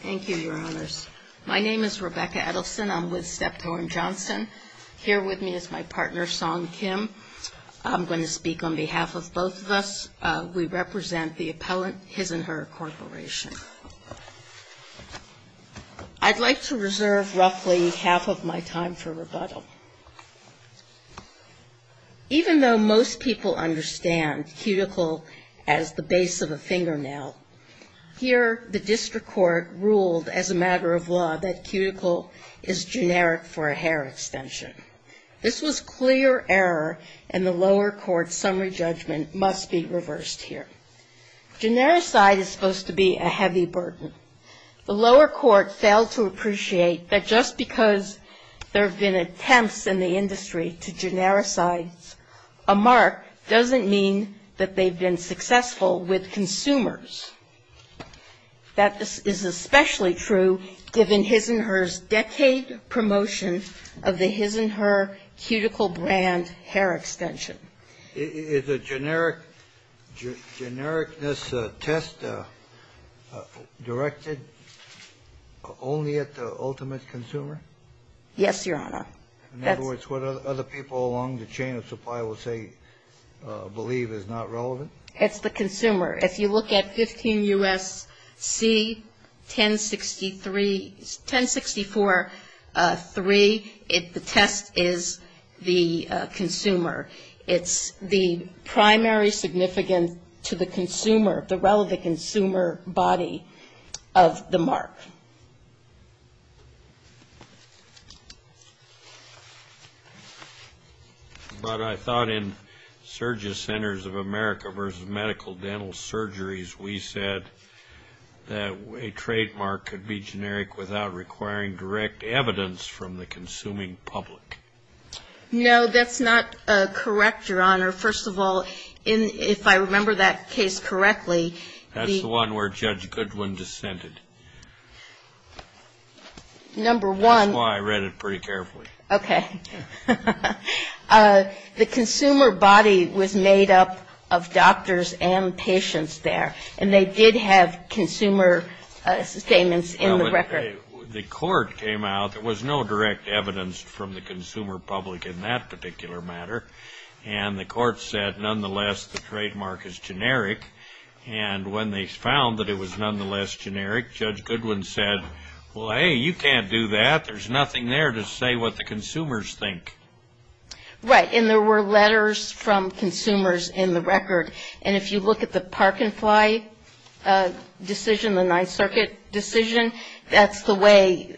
Thank you, Your Honors. My name is Rebecca Edelson. I'm with Step Torn Johnson. Here with me is my partner, Song Kim. I'm going to speak on behalf of both of us. We represent the appellant, His and Her Corporation. I'd like to reserve roughly half of my time for rebuttal. Even though most people understand cuticle as the base of a fingernail, here the district court ruled as a matter of law that cuticle is generic for a hair extension. This was clear error and the lower court's summary judgment must be reversed here. Genericide is supposed to be a heavy burden. The lower court failed to appreciate that just because there have been attempts in the industry to genericize a mark doesn't mean that they've been successful with consumers. That is especially true given His and Her's decade promotion of the His and Her cuticle brand hair extension. Is a genericness test directed only at the ultimate consumer? Yes, Your Honor. In other words, what other people along the chain of supply will say, believe is not relevant? It's the consumer. If you look at 15 U.S.C. 1063, 1064.3, the test is the consumer. It's the primary significance to the consumer, the relevant consumer body of the mark. But I thought in Surgeon Centers of America versus Medical Dental Surgeries, we said that a trademark could be generic without requiring direct evidence from the consuming public. No, that's not correct, Your Honor. First of all, if I remember that case correctly, That's the one where Judge Goodwin dissented. That's why I read it pretty carefully. Okay. The consumer body was made up of doctors and patients there, and they did have consumer statements in the record. The court came out. There was no direct evidence from the consumer public in that particular matter. And the court said, nonetheless, the trademark is generic. And when they found that it was nonetheless generic, Judge Goodwin said, well, hey, you can't do that. There's nothing there to say what the consumers think. Right. And there were letters from consumers in the record. And if you look at the Park and Fly decision, the Ninth Circuit decision, that's the way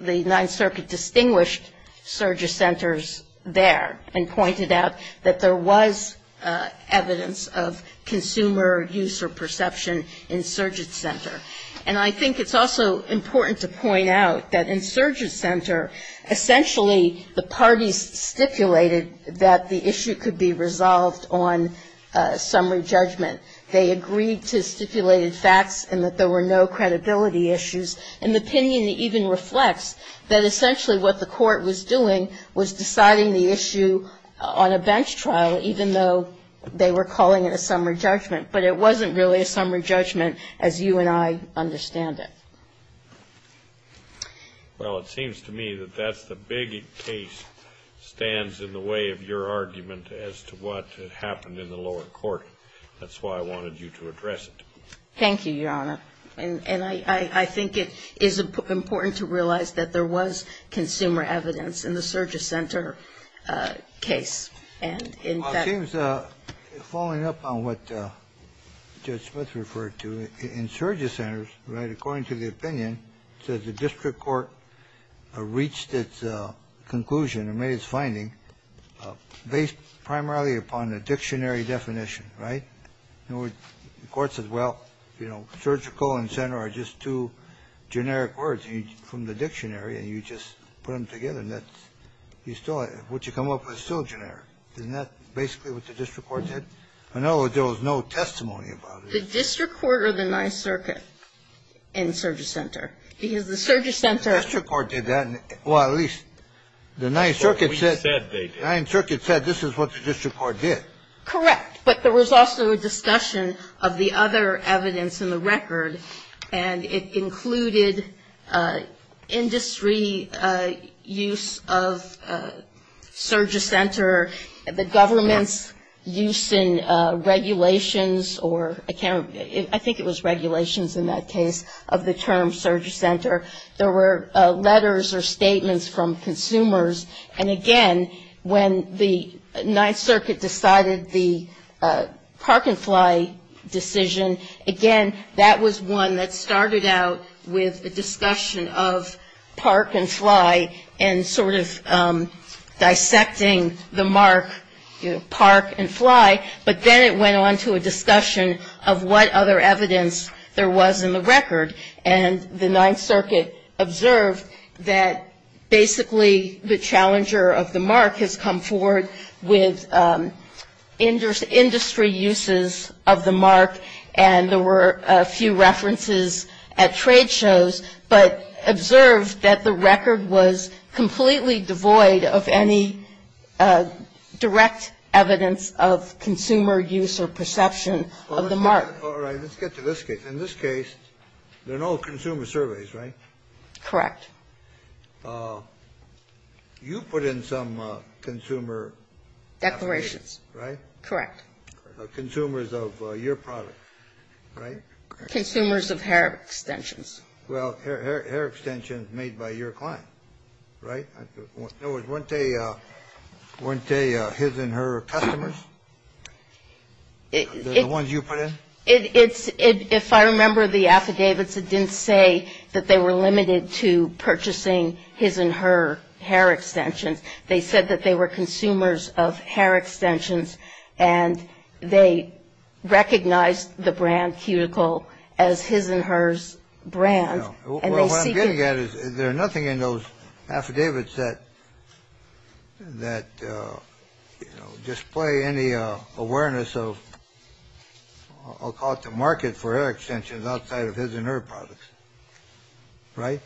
the Ninth Circuit distinguished Surgeon Centers there and pointed out that there was evidence of consumer use or perception in Surgeon Center. And I think it's also important to point out that in Surgeon Center, essentially the parties stipulated that the issue could be resolved on summary judgment. They agreed to stipulated facts and that there were no credibility issues. And the opinion even reflects that essentially what the court was doing was deciding the issue on a bench trial, even though they were calling it a summary judgment. But it wasn't really a summary judgment as you and I understand it. Well, it seems to me that that's the big case stands in the way of your argument as to what happened in the lower court. That's why I wanted you to address it. Thank you, Your Honor. And I think it is important to realize that there was consumer evidence in the Surgeon Center case. And, in fact ---- Well, it seems, following up on what Judge Smith referred to, in Surgeon Centers, right, according to the opinion, it says the district court reached its conclusion and made its finding based primarily upon a dictionary definition. Right? The court says, well, you know, surgical and center are just two generic words from the dictionary, and you just put them together. And that's you still ---- what you come up with is still generic. Isn't that basically what the district court did? I know there was no testimony about it. The district court or the Ninth Circuit in Surgeon Center? Because the Surgeon Center ---- The district court did that. Well, at least the Ninth Circuit said this is what the district court did. Correct. But there was also a discussion of the other evidence in the record, and it included industry use of Surgeon Center, the government's use in regulations or I can't ---- I think it was regulations in that case of the term Surgeon Center. There were letters or statements from consumers. And, again, when the Ninth Circuit decided the Park and Fly decision, again, that was one that started out with a discussion of Park and Fly and sort of dissecting the mark Park and Fly. But then it went on to a discussion of what other evidence there was in the record. And the Ninth Circuit observed that, basically, the challenger of the mark has come forward with industry uses of the mark, and there were a few references at trade shows, but observed that the record was completely devoid of any direct evidence of consumer use or perception of the mark. All right. Let's get to this case. In this case, there are no consumer surveys, right? Correct. You put in some consumer ---- Declarations. Right? Correct. Consumers of your product, right? Consumers of hair extensions. Well, hair extensions made by your client, right? In other words, weren't they his and her customers? The ones you put in? It's ---- If I remember the affidavits, it didn't say that they were limited to purchasing his and her hair extensions. They said that they were consumers of hair extensions, and they recognized the brand Cuticle as his and hers brand. Well, what I'm getting at is there are nothing in those affidavits that, you know, display any awareness of, I'll call it the market for hair extensions, outside of his and her products, right?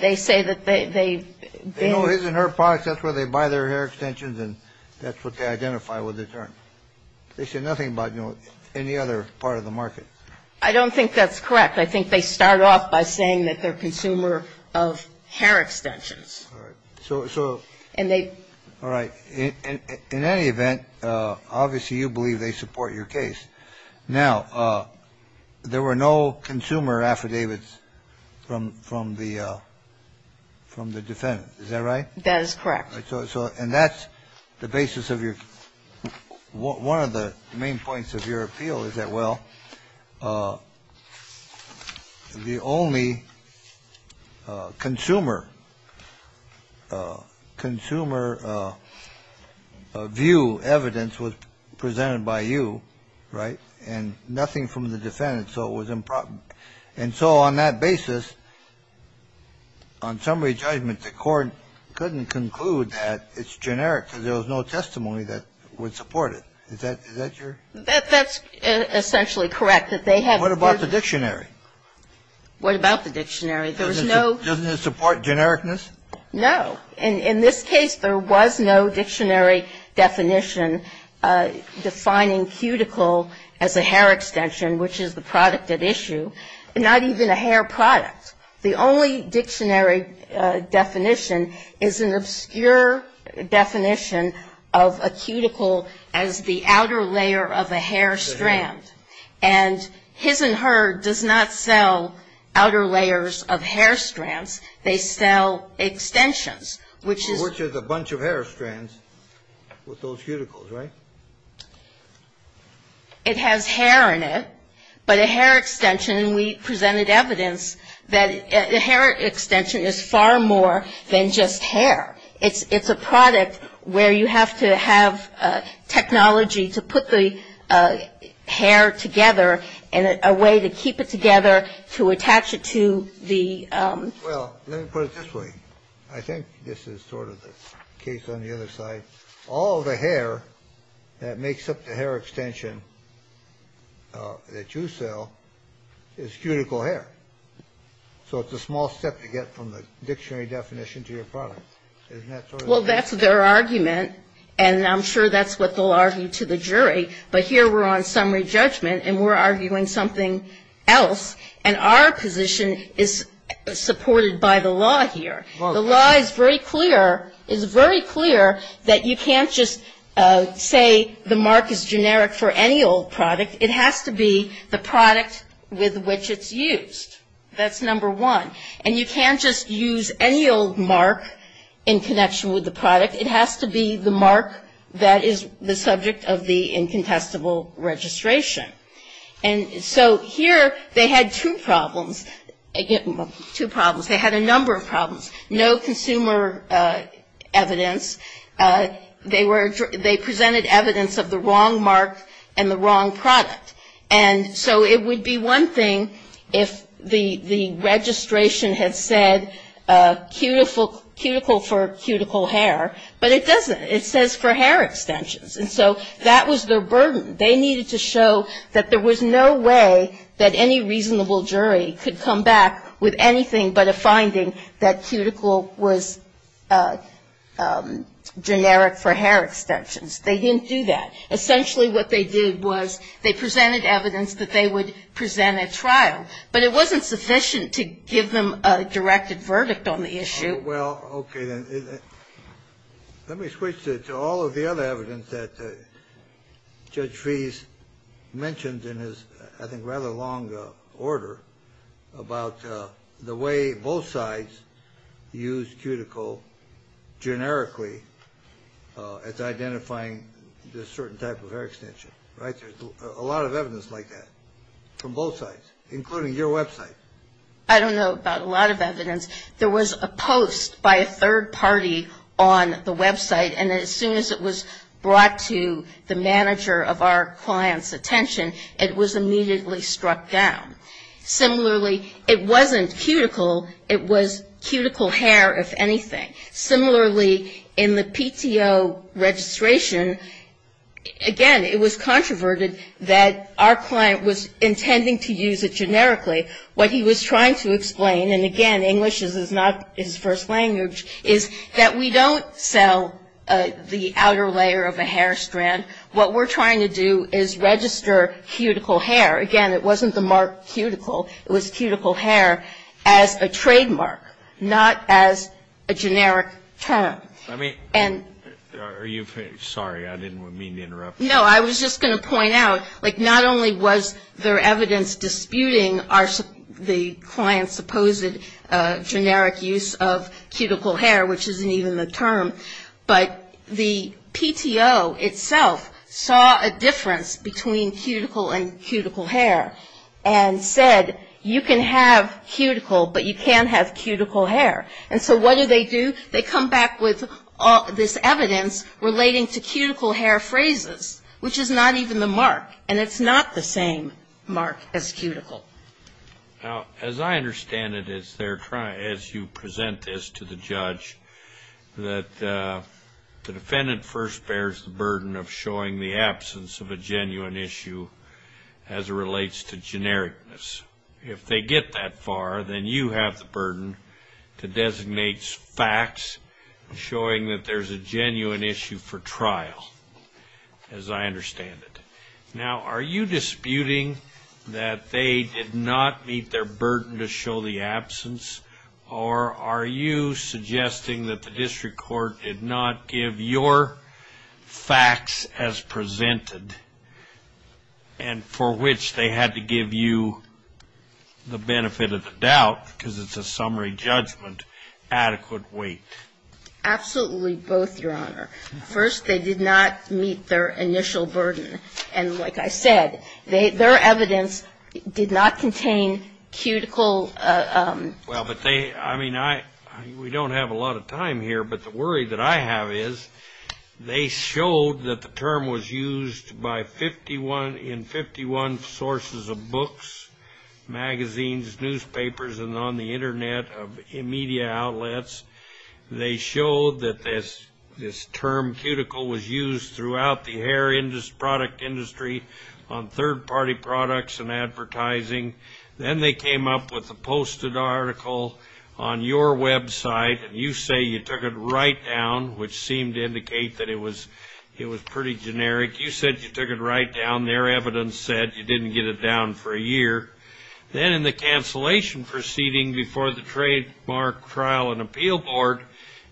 They say that they ---- They know his and her products. That's where they buy their hair extensions, and that's what they identify with the term. They say nothing about, you know, any other part of the market. I don't think that's correct. I think they start off by saying that they're consumer of hair extensions. All right. So ---- And they ---- All right. In any event, obviously you believe they support your case. Now, there were no consumer affidavits from the defendant. Is that right? That is correct. And that's the basis of your ---- One of the main points of your appeal is that, well, the only consumer view, evidence was presented by you, right, and nothing from the defendant. So it was improper. And so on that basis, on summary judgment, the court couldn't conclude that it's generic because there was no testimony that would support it. Is that your ---- That's essentially correct, that they have ---- What about the dictionary? What about the dictionary? There was no ---- Doesn't it support genericness? No. In this case, there was no dictionary definition defining cuticle as a hair extension, which is the product at issue, not even a hair product. The only dictionary definition is an obscure definition of a cuticle as the outer layer of a hair strand. And His and Her does not sell outer layers of hair strands. They sell extensions, which is ---- Which is a bunch of hair strands with those cuticles, right? It has hair in it, but a hair extension, and we presented evidence that a hair extension is far more than just hair. It's a product where you have to have technology to put the hair together in a way to keep it together to attach it to the ---- Well, let me put it this way. I think this is sort of the case on the other side. All the hair that makes up the hair extension that you sell is cuticle hair. So it's a small step to get from the dictionary definition to your product. Isn't that sort of ---- Well, that's their argument, and I'm sure that's what they'll argue to the jury. But here we're on summary judgment, and we're arguing something else. And our position is supported by the law here. The law is very clear that you can't just say the mark is generic for any old product. It has to be the product with which it's used. That's number one. And you can't just use any old mark in connection with the product. It has to be the mark that is the subject of the incontestable registration. And so here they had two problems. They had a number of problems. No consumer evidence. They presented evidence of the wrong mark and the wrong product. And so it would be one thing if the registration had said cuticle for cuticle hair, but it doesn't. It says for hair extensions. And so that was their burden. They needed to show that there was no way that any reasonable jury could come back with anything but a finding that cuticle was generic for hair extensions. They didn't do that. Essentially what they did was they presented evidence that they would present at trial. But it wasn't sufficient to give them a directed verdict on the issue. Well, okay. Let me switch to all of the other evidence that Judge Fees mentioned in his, I think, rather long order about the way both sides used cuticle generically as identifying a certain type of hair extension. Right? There's a lot of evidence like that from both sides, including your website. I don't know about a lot of evidence. There was a post by a third party on the website, and as soon as it was brought to the manager of our client's attention, it was immediately struck down. Similarly, it wasn't cuticle. It was cuticle hair, if anything. Similarly, in the PTO registration, again, it was controverted that our client was intending to use it generically. What he was trying to explain, and again, English is not his first language, is that we don't sell the outer layer of a hair strand. What we're trying to do is register cuticle hair. Again, it wasn't the mark cuticle. It was cuticle hair as a trademark, not as a generic term. I mean, are you? Sorry, I didn't mean to interrupt. No, I was just going to point out, like, not only was there evidence disputing the client's supposed generic use of cuticle hair, which isn't even the term, but the PTO itself saw a difference between cuticle and cuticle hair and said you can have cuticle, but you can't have cuticle hair. And so what do they do? They come back with this evidence relating to cuticle hair phrases, which is not even the mark, and it's not the same mark as cuticle. Now, as I understand it, as you present this to the judge, that the defendant first bears the burden of showing the absence of a genuine issue as it relates to genericness. If they get that far, then you have the burden to designate facts showing that there's a genuine issue for trial, as I understand it. Now, are you disputing that they did not meet their burden to show the absence, or are you suggesting that the district court did not give your facts as presented and for which they had to give you the benefit of the doubt because it's a summary judgment adequate weight? Absolutely both, Your Honor. First, they did not meet their initial burden. And like I said, their evidence did not contain cuticle. Well, but they, I mean, we don't have a lot of time here, but the worry that I have is they showed that the term was used in 51 sources of books, magazines, newspapers, and on the Internet of media outlets. They showed that this term cuticle was used throughout the hair product industry on third-party products and advertising. Then they came up with a posted article on your website, and you say you took it right down, which seemed to indicate that it was pretty generic. You said you took it right down. Their evidence said you didn't get it down for a year. Then in the cancellation proceeding before the trademark trial and appeal board,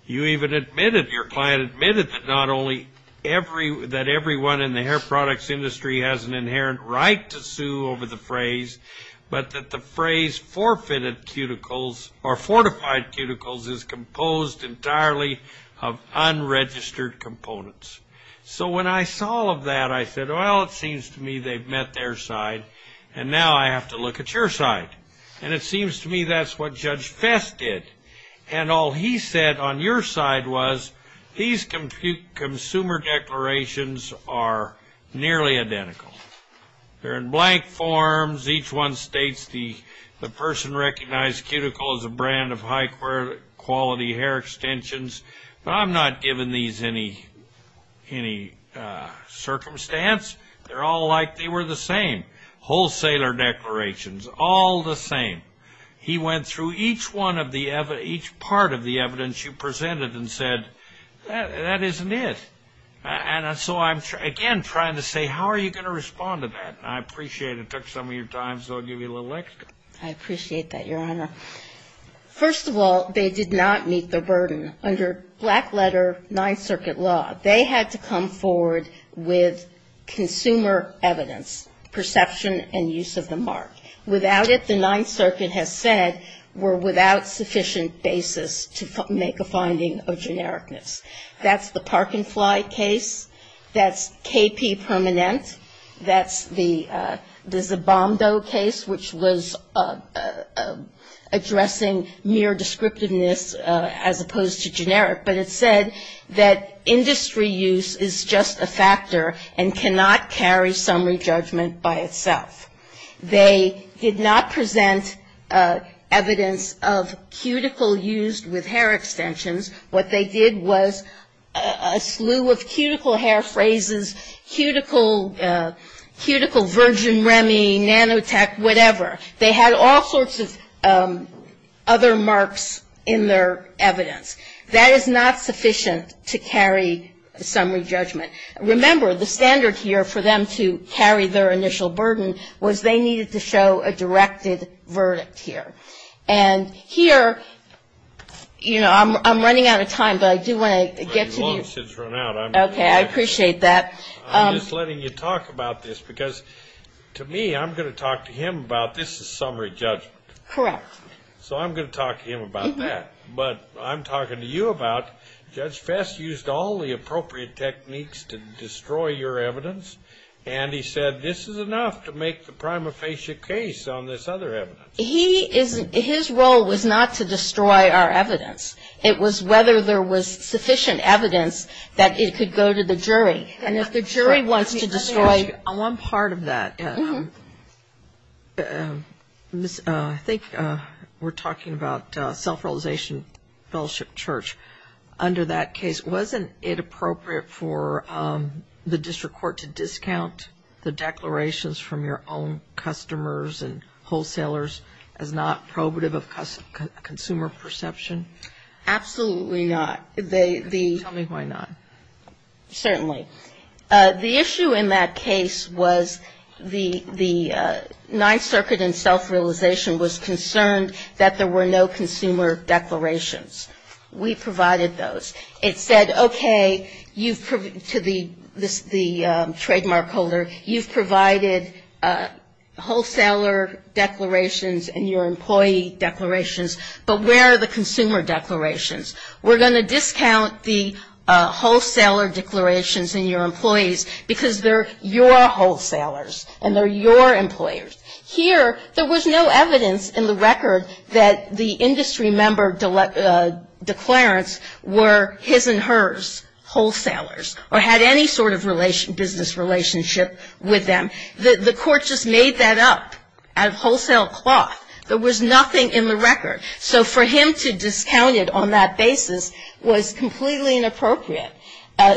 you even admitted, your client admitted, that not only that everyone in the hair products industry has an inherent right to sue over the phrase, but that the phrase forfeited cuticles or fortified cuticles is composed entirely of unregistered components. So when I saw all of that, I said, well, it seems to me they've met their side, and now I have to look at your side. And it seems to me that's what Judge Fess did. And all he said on your side was these consumer declarations are nearly identical. They're in blank forms. Each one states the person recognized cuticle as a brand of high-quality hair extensions. But I'm not giving these any circumstance. They're all like they were the same, wholesaler declarations, all the same. He went through each part of the evidence you presented and said, that isn't it. And so I'm, again, trying to say, how are you going to respond to that? And I appreciate it. It took some of your time, so I'll give you a little extra. I appreciate that, Your Honor. First of all, they did not meet the burden. Under black-letter Ninth Circuit law, they had to come forward with consumer evidence, perception and use of the mark. Without it, the Ninth Circuit has said we're without sufficient basis to make a finding of genericness. That's the Park and Fly case. That's KP Permanent. That's the Zabando case, which was addressing mere descriptiveness as opposed to generic. But it said that industry use is just a factor and cannot carry summary judgment by itself. They did not present evidence of cuticle used with hair extensions. What they did was a slew of cuticle hair phrases, cuticle virgin Remy, nanotech, whatever. They had all sorts of other marks in their evidence. That is not sufficient to carry summary judgment. Remember, the standard here for them to carry their initial burden was they needed to show a directed verdict here. And here, you know, I'm running out of time, but I do want to get to you. You've long since run out. Okay, I appreciate that. I'm just letting you talk about this, because to me, I'm going to talk to him about this is summary judgment. Correct. So I'm going to talk to him about that. But I'm talking to you about Judge Fess used all the appropriate techniques to destroy your evidence, and he said this is enough to make the prima facie case on this other evidence. He is his role was not to destroy our evidence. It was whether there was sufficient evidence that it could go to the jury. And if the jury wants to destroy. On one part of that, I think we're talking about self-realization fellowship church. Under that case, wasn't it appropriate for the district court to discount the declarations from your own customers and wholesalers as not probative of consumer perception? Absolutely not. Tell me why not. Certainly. The issue in that case was the Ninth Circuit in self-realization was concerned that there were no consumer declarations. We provided those. It said, okay, to the trademark holder, you've provided wholesaler declarations and your employee declarations, but where are the consumer declarations? We're going to discount the wholesaler declarations in your employees because they're your wholesalers and they're your employers. Here, there was no evidence in the record that the industry member declarants were his and hers wholesalers or had any sort of business relationship with them. The court just made that up out of wholesale cloth. There was nothing in the record. So for him to discount it on that basis was completely inappropriate.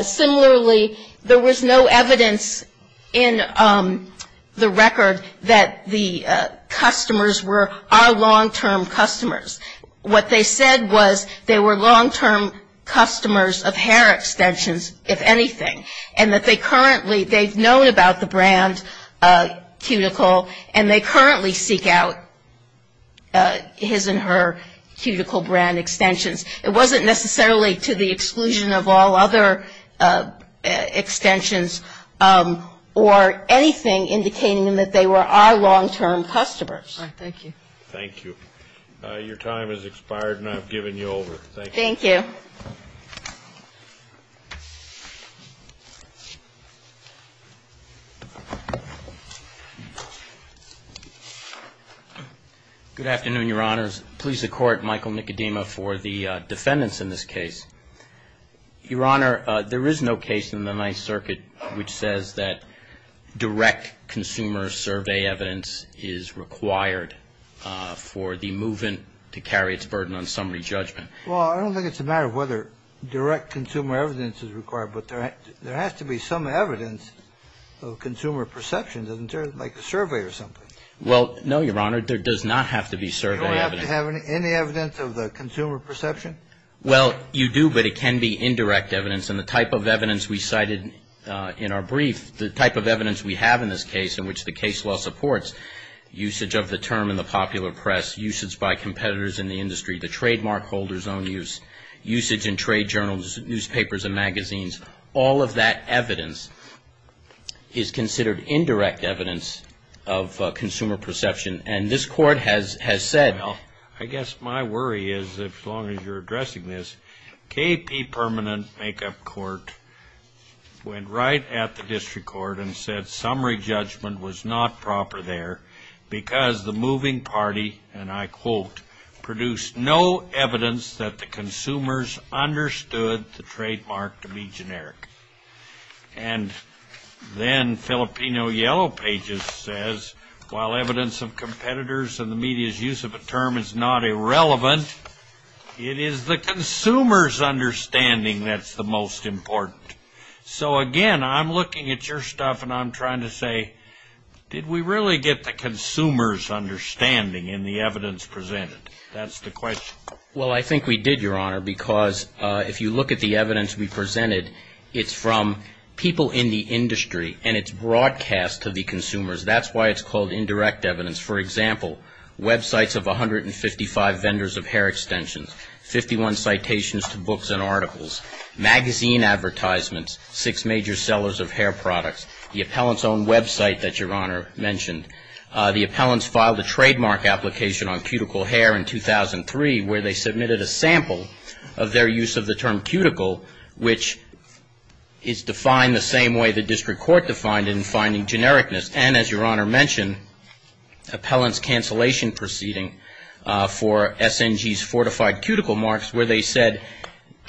Similarly, there was no evidence in the record that the customers were our long-term customers. What they said was they were long-term customers of hair extensions, if anything, and that they currently, they've known about the brand, Cuticle, and they currently seek out his and her Cuticle brand extensions. It wasn't necessarily to the exclusion of all other extensions or anything indicating that they were our long-term customers. All right. Thank you. Thank you. Your time has expired and I've given you over. Thank you. Good afternoon, Your Honors. Please support Michael Nicodema for the defendants in this case. Your Honor, there is no case in the Ninth Circuit which says that direct consumer survey evidence is required for the movement to carry its burden on summary judgment. Well, I don't think it's a matter of whether direct consumer evidence is required, but there has to be some evidence of consumer perception, doesn't there, like a survey or something? Well, no, Your Honor. There does not have to be survey evidence. Do I have to have any evidence of the consumer perception? Well, you do, but it can be indirect evidence. And the type of evidence we cited in our brief, the type of evidence we have in this case in which the case law supports usage of the term in the popular press, usage by competitors in the industry, the trademark holders' own use, usage in trade journals, newspapers and magazines, all of that evidence is considered indirect evidence of consumer perception. And this Court has said... Well, I guess my worry is, as long as you're addressing this, KP Permanent Makeup Court went right at the district court and said summary judgment was not proper there because the moving party, and I quote, produced no evidence that the consumers understood the trademark to be generic. And then Filipino Yellow Pages says, while evidence of competitors and the media's use of a term is not irrelevant, it is the consumer's understanding that's the most important. So, again, I'm looking at your stuff and I'm trying to say, did we really get the consumer's understanding in the evidence presented? That's the question. Well, I think we did, Your Honor, because if you look at the evidence we presented, it's from people in the industry and it's broadcast to the consumers. That's why it's called indirect evidence. For example, websites of 155 vendors of hair extensions, 51 citations to books and articles, magazine advertisements, six major sellers of hair products, the appellant's own website that Your Honor mentioned. The appellants filed a trademark application on cuticle hair in 2003 where they submitted a sample of their use of the term cuticle, which is defined the same way the district court defined it in finding genericness. And as Your Honor mentioned, appellant's cancellation proceeding for SNG's fortified cuticle marks where they said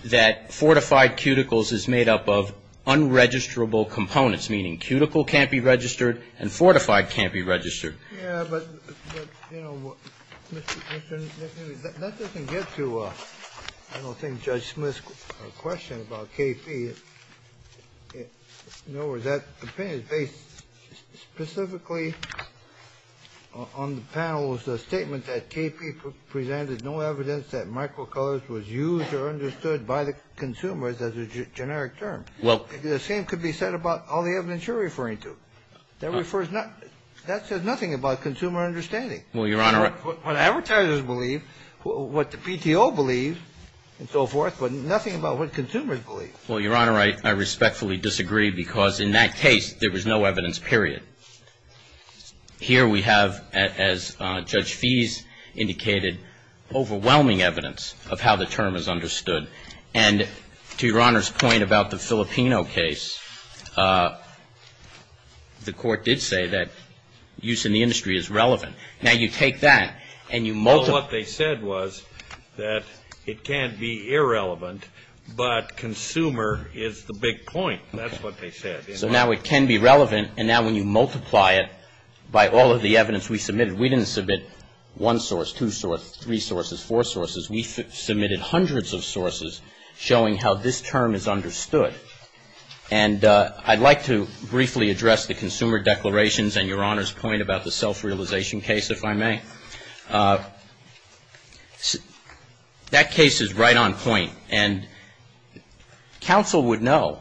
that fortified cuticles is made up of unregisterable components, meaning cuticle can't be registered and fortified can't be registered. Yeah, but, you know, that doesn't get to I don't think Judge Smith's question about KP. In other words, that opinion is based specifically on the panel's statement that KP presented no evidence that microcolors was used or understood by the consumers as a generic term. Well, the same could be said about all the evidence you're referring to. That says nothing about consumer understanding. Well, Your Honor. What advertisers believe, what the PTO believes and so forth, but nothing about what consumers believe. Well, Your Honor, I respectfully disagree because in that case there was no evidence, period. Here we have, as Judge Fease indicated, overwhelming evidence of how the term is understood. And to Your Honor's point about the Filipino case, the Court did say that use in the industry is relevant. Now, you take that and you multiply it. Well, what they said was that it can't be irrelevant, but consumer is the big point. That's what they said. So now it can be relevant, and now when you multiply it by all of the evidence we submitted, we didn't submit one source, two sources, three sources, four sources. We submitted hundreds of sources showing how this term is understood. And I'd like to briefly address the consumer declarations and Your Honor's point about the self-realization case, if I may. That case is right on point. And counsel would know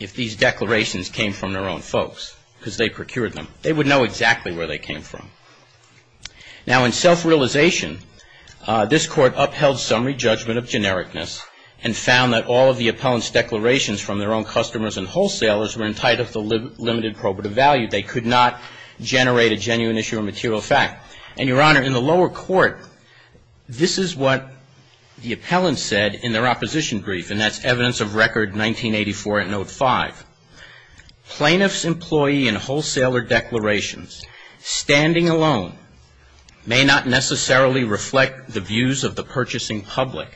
if these declarations came from their own folks because they procured them. They would know exactly where they came from. Now, in self-realization, this Court upheld summary judgment of genericness and found that all of the appellant's declarations from their own customers and wholesalers were entitled to limited probative value. They could not generate a genuine issue of material fact. And, Your Honor, in the lower court, this is what the appellants said in their opposition brief, and that's evidence of record 1984 at note 5. Plaintiffs' employee and wholesaler declarations standing alone may not necessarily reflect the views of the purchasing public,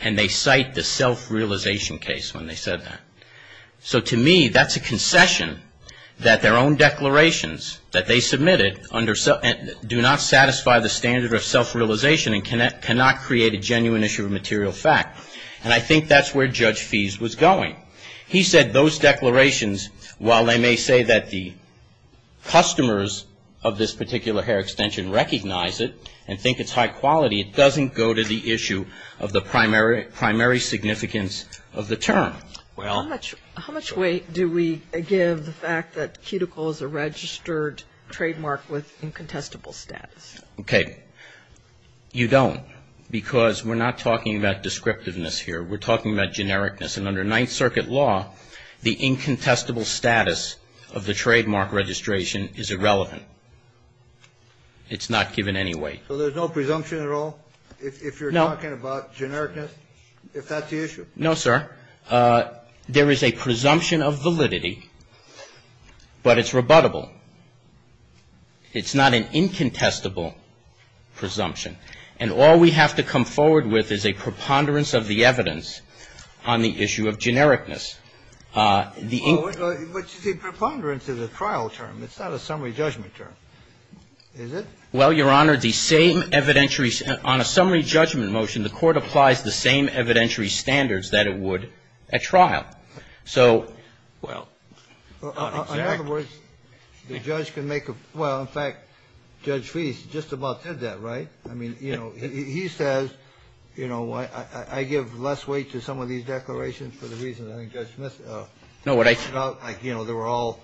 and they cite the self-realization case when they said that. So, to me, that's a concession that their own declarations that they submitted do not satisfy the standard of self-realization and cannot create a genuine issue of material fact. And I think that's where Judge Fees was going. He said those declarations, while they may say that the customers of this particular hair extension recognize it and think it's high quality, it doesn't go to the issue of the primary significance of the term. Well, how much weight do we give the fact that cuticle is a registered trademark with incontestable status? Okay. You don't because we're not talking about descriptiveness here. We're talking about genericness. And under Ninth Circuit law, the incontestable status of the trademark registration is irrelevant. It's not given any weight. So there's no presumption at all if you're talking about genericness, if that's the issue? No, sir. There is a presumption of validity, but it's rebuttable. It's not an incontestable presumption. And all we have to come forward with is a preponderance of the evidence on the issue of genericness. The ink ---- But, you see, preponderance is a trial term. It's not a summary judgment term, is it? Well, Your Honor, the same evidentiary ---- On a summary judgment motion, the Court applies the same evidentiary standards that it would at trial. So, well ---- In other words, the judge can make a ---- Well, in fact, Judge Fees just about said that, right? I mean, you know, he says, you know, I give less weight to some of these declarations for the reasons I think Judge Smith ---- No, what I ---- Like, you know, they were all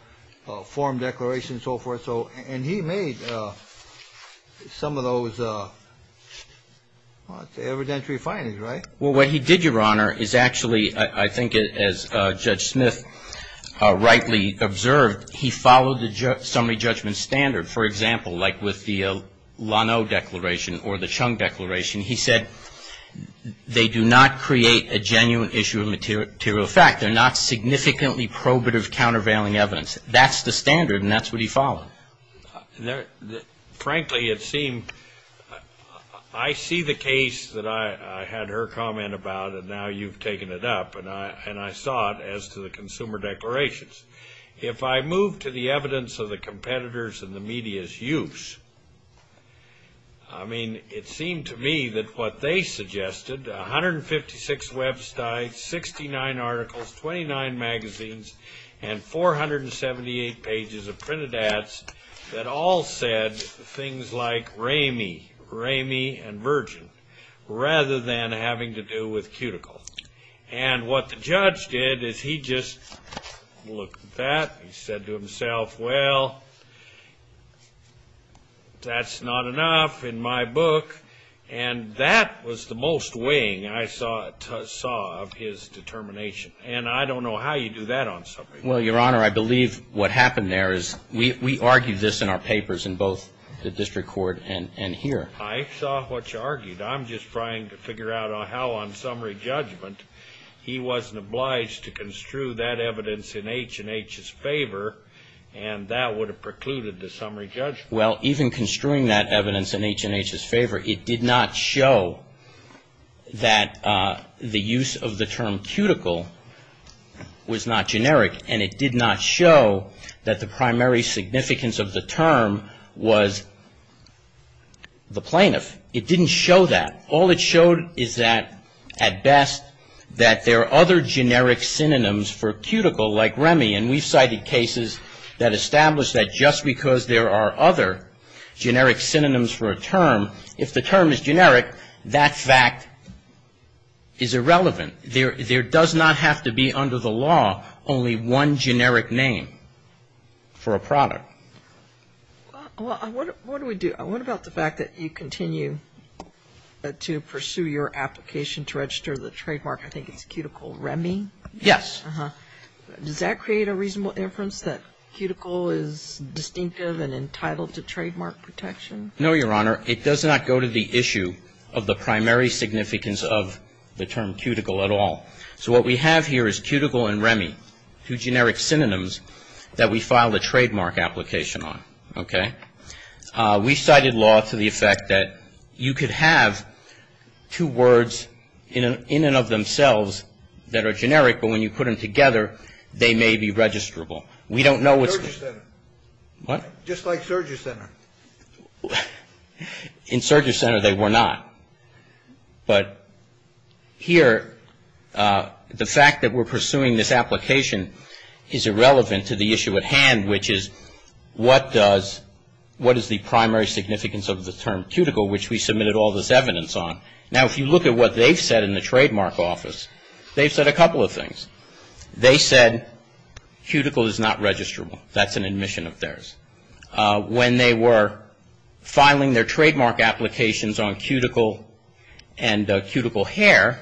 form declarations and so forth. And he made some of those, what, evidentiary findings, right? Well, what he did, Your Honor, is actually, I think, as Judge Smith rightly observed, he followed the summary judgment standard. For example, like with the Lano Declaration or the Chung Declaration, he said, they do not create a genuine issue of material fact. They're not significantly probative, countervailing evidence. That's the standard, and that's what he followed. Frankly, it seemed ---- I see the case that I had her comment about, and now you've taken it up, and I saw it as to the consumer declarations. If I move to the evidence of the competitors and the media's use, I mean, it seemed to me that what they suggested, 156 websites, 69 articles, 29 magazines, and 478 pages of printed ads that all said things like Ramey, Ramey and Virgin, rather than having to do with Cuticle. And what the judge did is he just looked at that and said to himself, well, that's not enough in my book. And that was the most weighing I saw of his determination. And I don't know how you do that on summary court. Well, Your Honor, I believe what happened there is we argued this in our papers in both the district court and here. I saw what you argued. I'm just trying to figure out how on summary judgment he wasn't obliged to construe that evidence in H&H's favor, and that would have precluded the summary judgment. Well, even construing that evidence in H&H's favor, it did not show that the use of the term Cuticle was not generic, and it did not show that the primary significance of the term was the plaintiff. It didn't show that. All it showed is that, at best, that there are other generic synonyms for Cuticle like Ramey, and we've cited cases that establish that just because there are other generic synonyms for a term, if the term is generic, that fact is irrelevant. There does not have to be under the law only one generic name for a product. Well, what do we do? What about the fact that you continue to pursue your application to register the trademark? I think it's Cuticle Ramey. Yes. Does that create a reasonable inference that Cuticle is distinctive and entitled to trademark protection? No, Your Honor. It does not go to the issue of the primary significance of the term Cuticle at all. So what we have here is Cuticle and Ramey, two generic synonyms that we filed a trademark application on. Okay? We cited law to the effect that you could have two words in and of themselves that are generic, but when you put them together, they may be registrable. We don't know what's going to happen. Surger Center. What? Just like Surger Center. In Surger Center, they were not. But here, the fact that we're pursuing this application is irrelevant to the issue at hand, which is what is the primary significance of the term Cuticle, which we submitted all this evidence on. Now, if you look at what they've said in the trademark office, they've said a couple of things. They said Cuticle is not registrable. That's an admission of theirs. When they were filing their trademark applications on Cuticle and Cuticle Hair,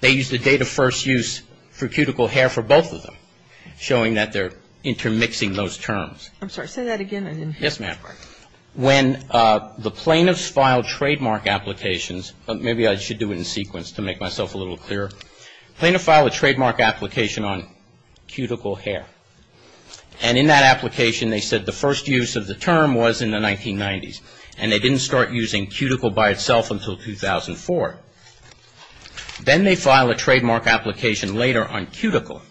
they used the date of first use for Cuticle Hair for both of them, showing that they're intermixing those terms. I'm sorry. Say that again. Yes, ma'am. When the plaintiffs filed trademark applications, maybe I should do it in sequence to make myself a little clearer. Plaintiffs filed a trademark application on Cuticle Hair. And in that application, they said the first use of the term was in the 1990s. And they didn't start using Cuticle by itself until 2004. Then they filed a trademark application later on Cuticle.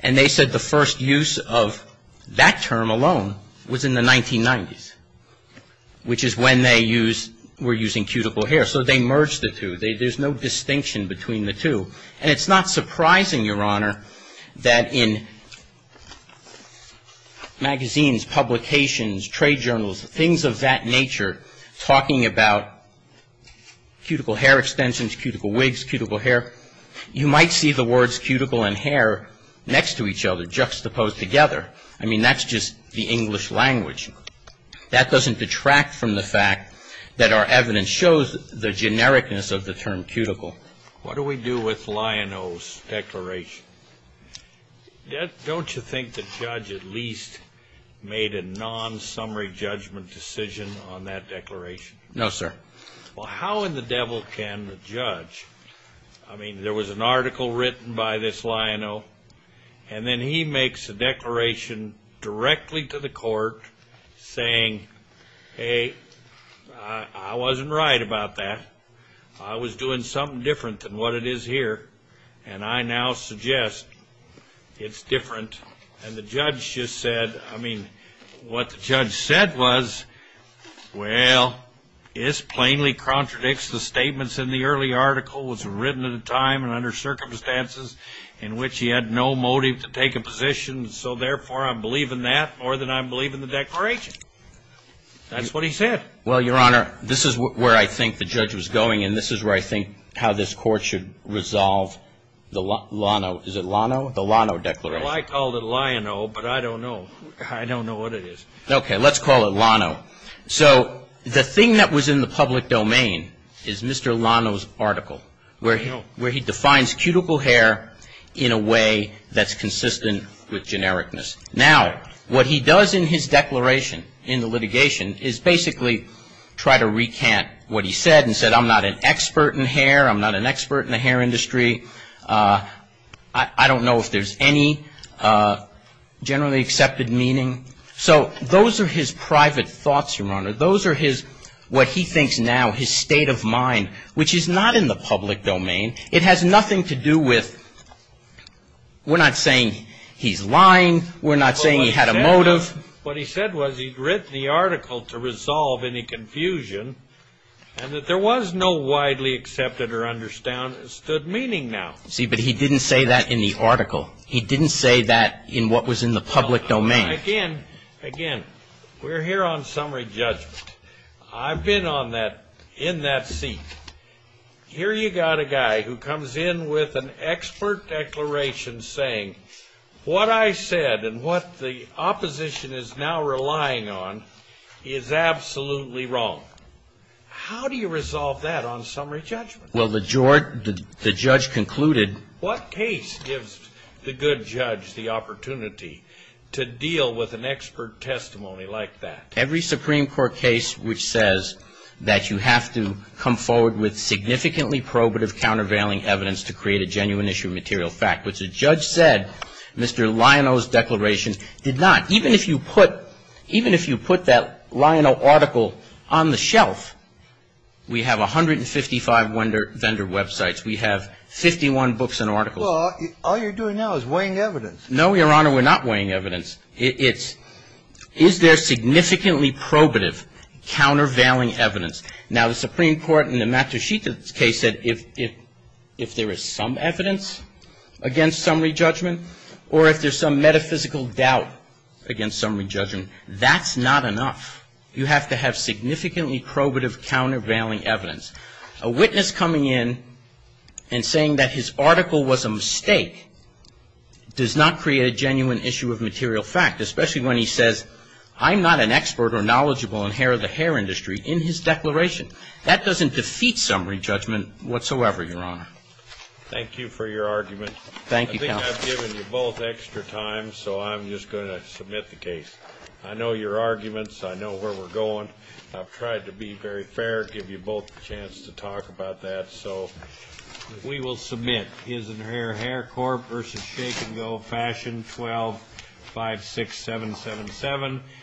And they said the first use of that term alone was in the 1990s, which is when they were using Cuticle Hair. So they merged the two. There's no distinction between the two. And it's not surprising, Your Honor, that in magazines, publications, trade journals, things of that nature talking about Cuticle Hair extensions, Cuticle Wigs, Cuticle Hair, you might see the words Cuticle and Hair next to each other, juxtaposed together. I mean, that's just the English language. That doesn't detract from the fact that our evidence shows the genericness of the term Cuticle. What do we do with Lioneau's declaration? Don't you think the judge at least made a non-summary judgment decision on that declaration? No, sir. Well, how in the devil can the judge? I mean, there was an article written by this Lioneau. And then he makes a declaration directly to the court saying, hey, I wasn't right about that. I was doing something different than what it is here. And I now suggest it's different. And the judge just said, I mean, what the judge said was, well, this plainly contradicts the statements in the early article. It was written at a time and under circumstances in which he had no motive to take a position. So, therefore, I'm believing that more than I'm believing the declaration. That's what he said. Well, Your Honor, this is where I think the judge was going. And this is where I think how this Court should resolve the Lioneau. Is it Lioneau? The Lioneau declaration. Well, I called it Lioneau, but I don't know. I don't know what it is. Okay. Let's call it Lioneau. So the thing that was in the public domain is Mr. Lioneau's article, where he defines cuticle hair in a way that's consistent with genericness. Now, what he does in his declaration, in the litigation, is basically try to recant what he said and said, I'm not an expert in hair. I'm not an expert in the hair industry. I don't know if there's any generally accepted meaning. So those are his private thoughts, Your Honor. Those are his, what he thinks now, his state of mind, which is not in the public domain. It has nothing to do with we're not saying he's lying. We're not saying he had a motive. What he said was he'd written the article to resolve any confusion and that there was no widely accepted or understood meaning now. See, but he didn't say that in the article. He didn't say that in what was in the public domain. Again, again, we're here on summary judgment. I've been on that, in that seat. Here you got a guy who comes in with an expert declaration saying, what I said and what the opposition is now relying on is absolutely wrong. How do you resolve that on summary judgment? Well, the judge concluded. What case gives the good judge the opportunity to deal with an expert testimony like that? Every Supreme Court case which says that you have to come forward with significantly probative countervailing evidence to create a genuine issue of material fact, which the judge said Mr. Lionel's declaration did not. Even if you put that Lionel article on the shelf, we have 155 vendor websites. We have 51 books and articles. Well, all you're doing now is weighing evidence. No, Your Honor, we're not weighing evidence. It's is there significantly probative countervailing evidence? Now, the Supreme Court in the Matushita case said if there is some evidence against summary judgment or if there's some metaphysical doubt against summary judgment, that's not enough. You have to have significantly probative countervailing evidence. A witness coming in and saying that his article was a mistake does not create a genuine issue of material fact, especially when he says I'm not an expert or knowledgeable in hair of the hair industry in his declaration. That doesn't defeat summary judgment whatsoever, Your Honor. Thank you for your argument. Thank you, counsel. I think I've given you both extra time, so I'm just going to submit the case. I know your arguments. I know where we're going. I've tried to be very fair, give you both a chance to talk about that. We will submit his and her Hair Corp. v. Shake and Go Fashion 12-56777.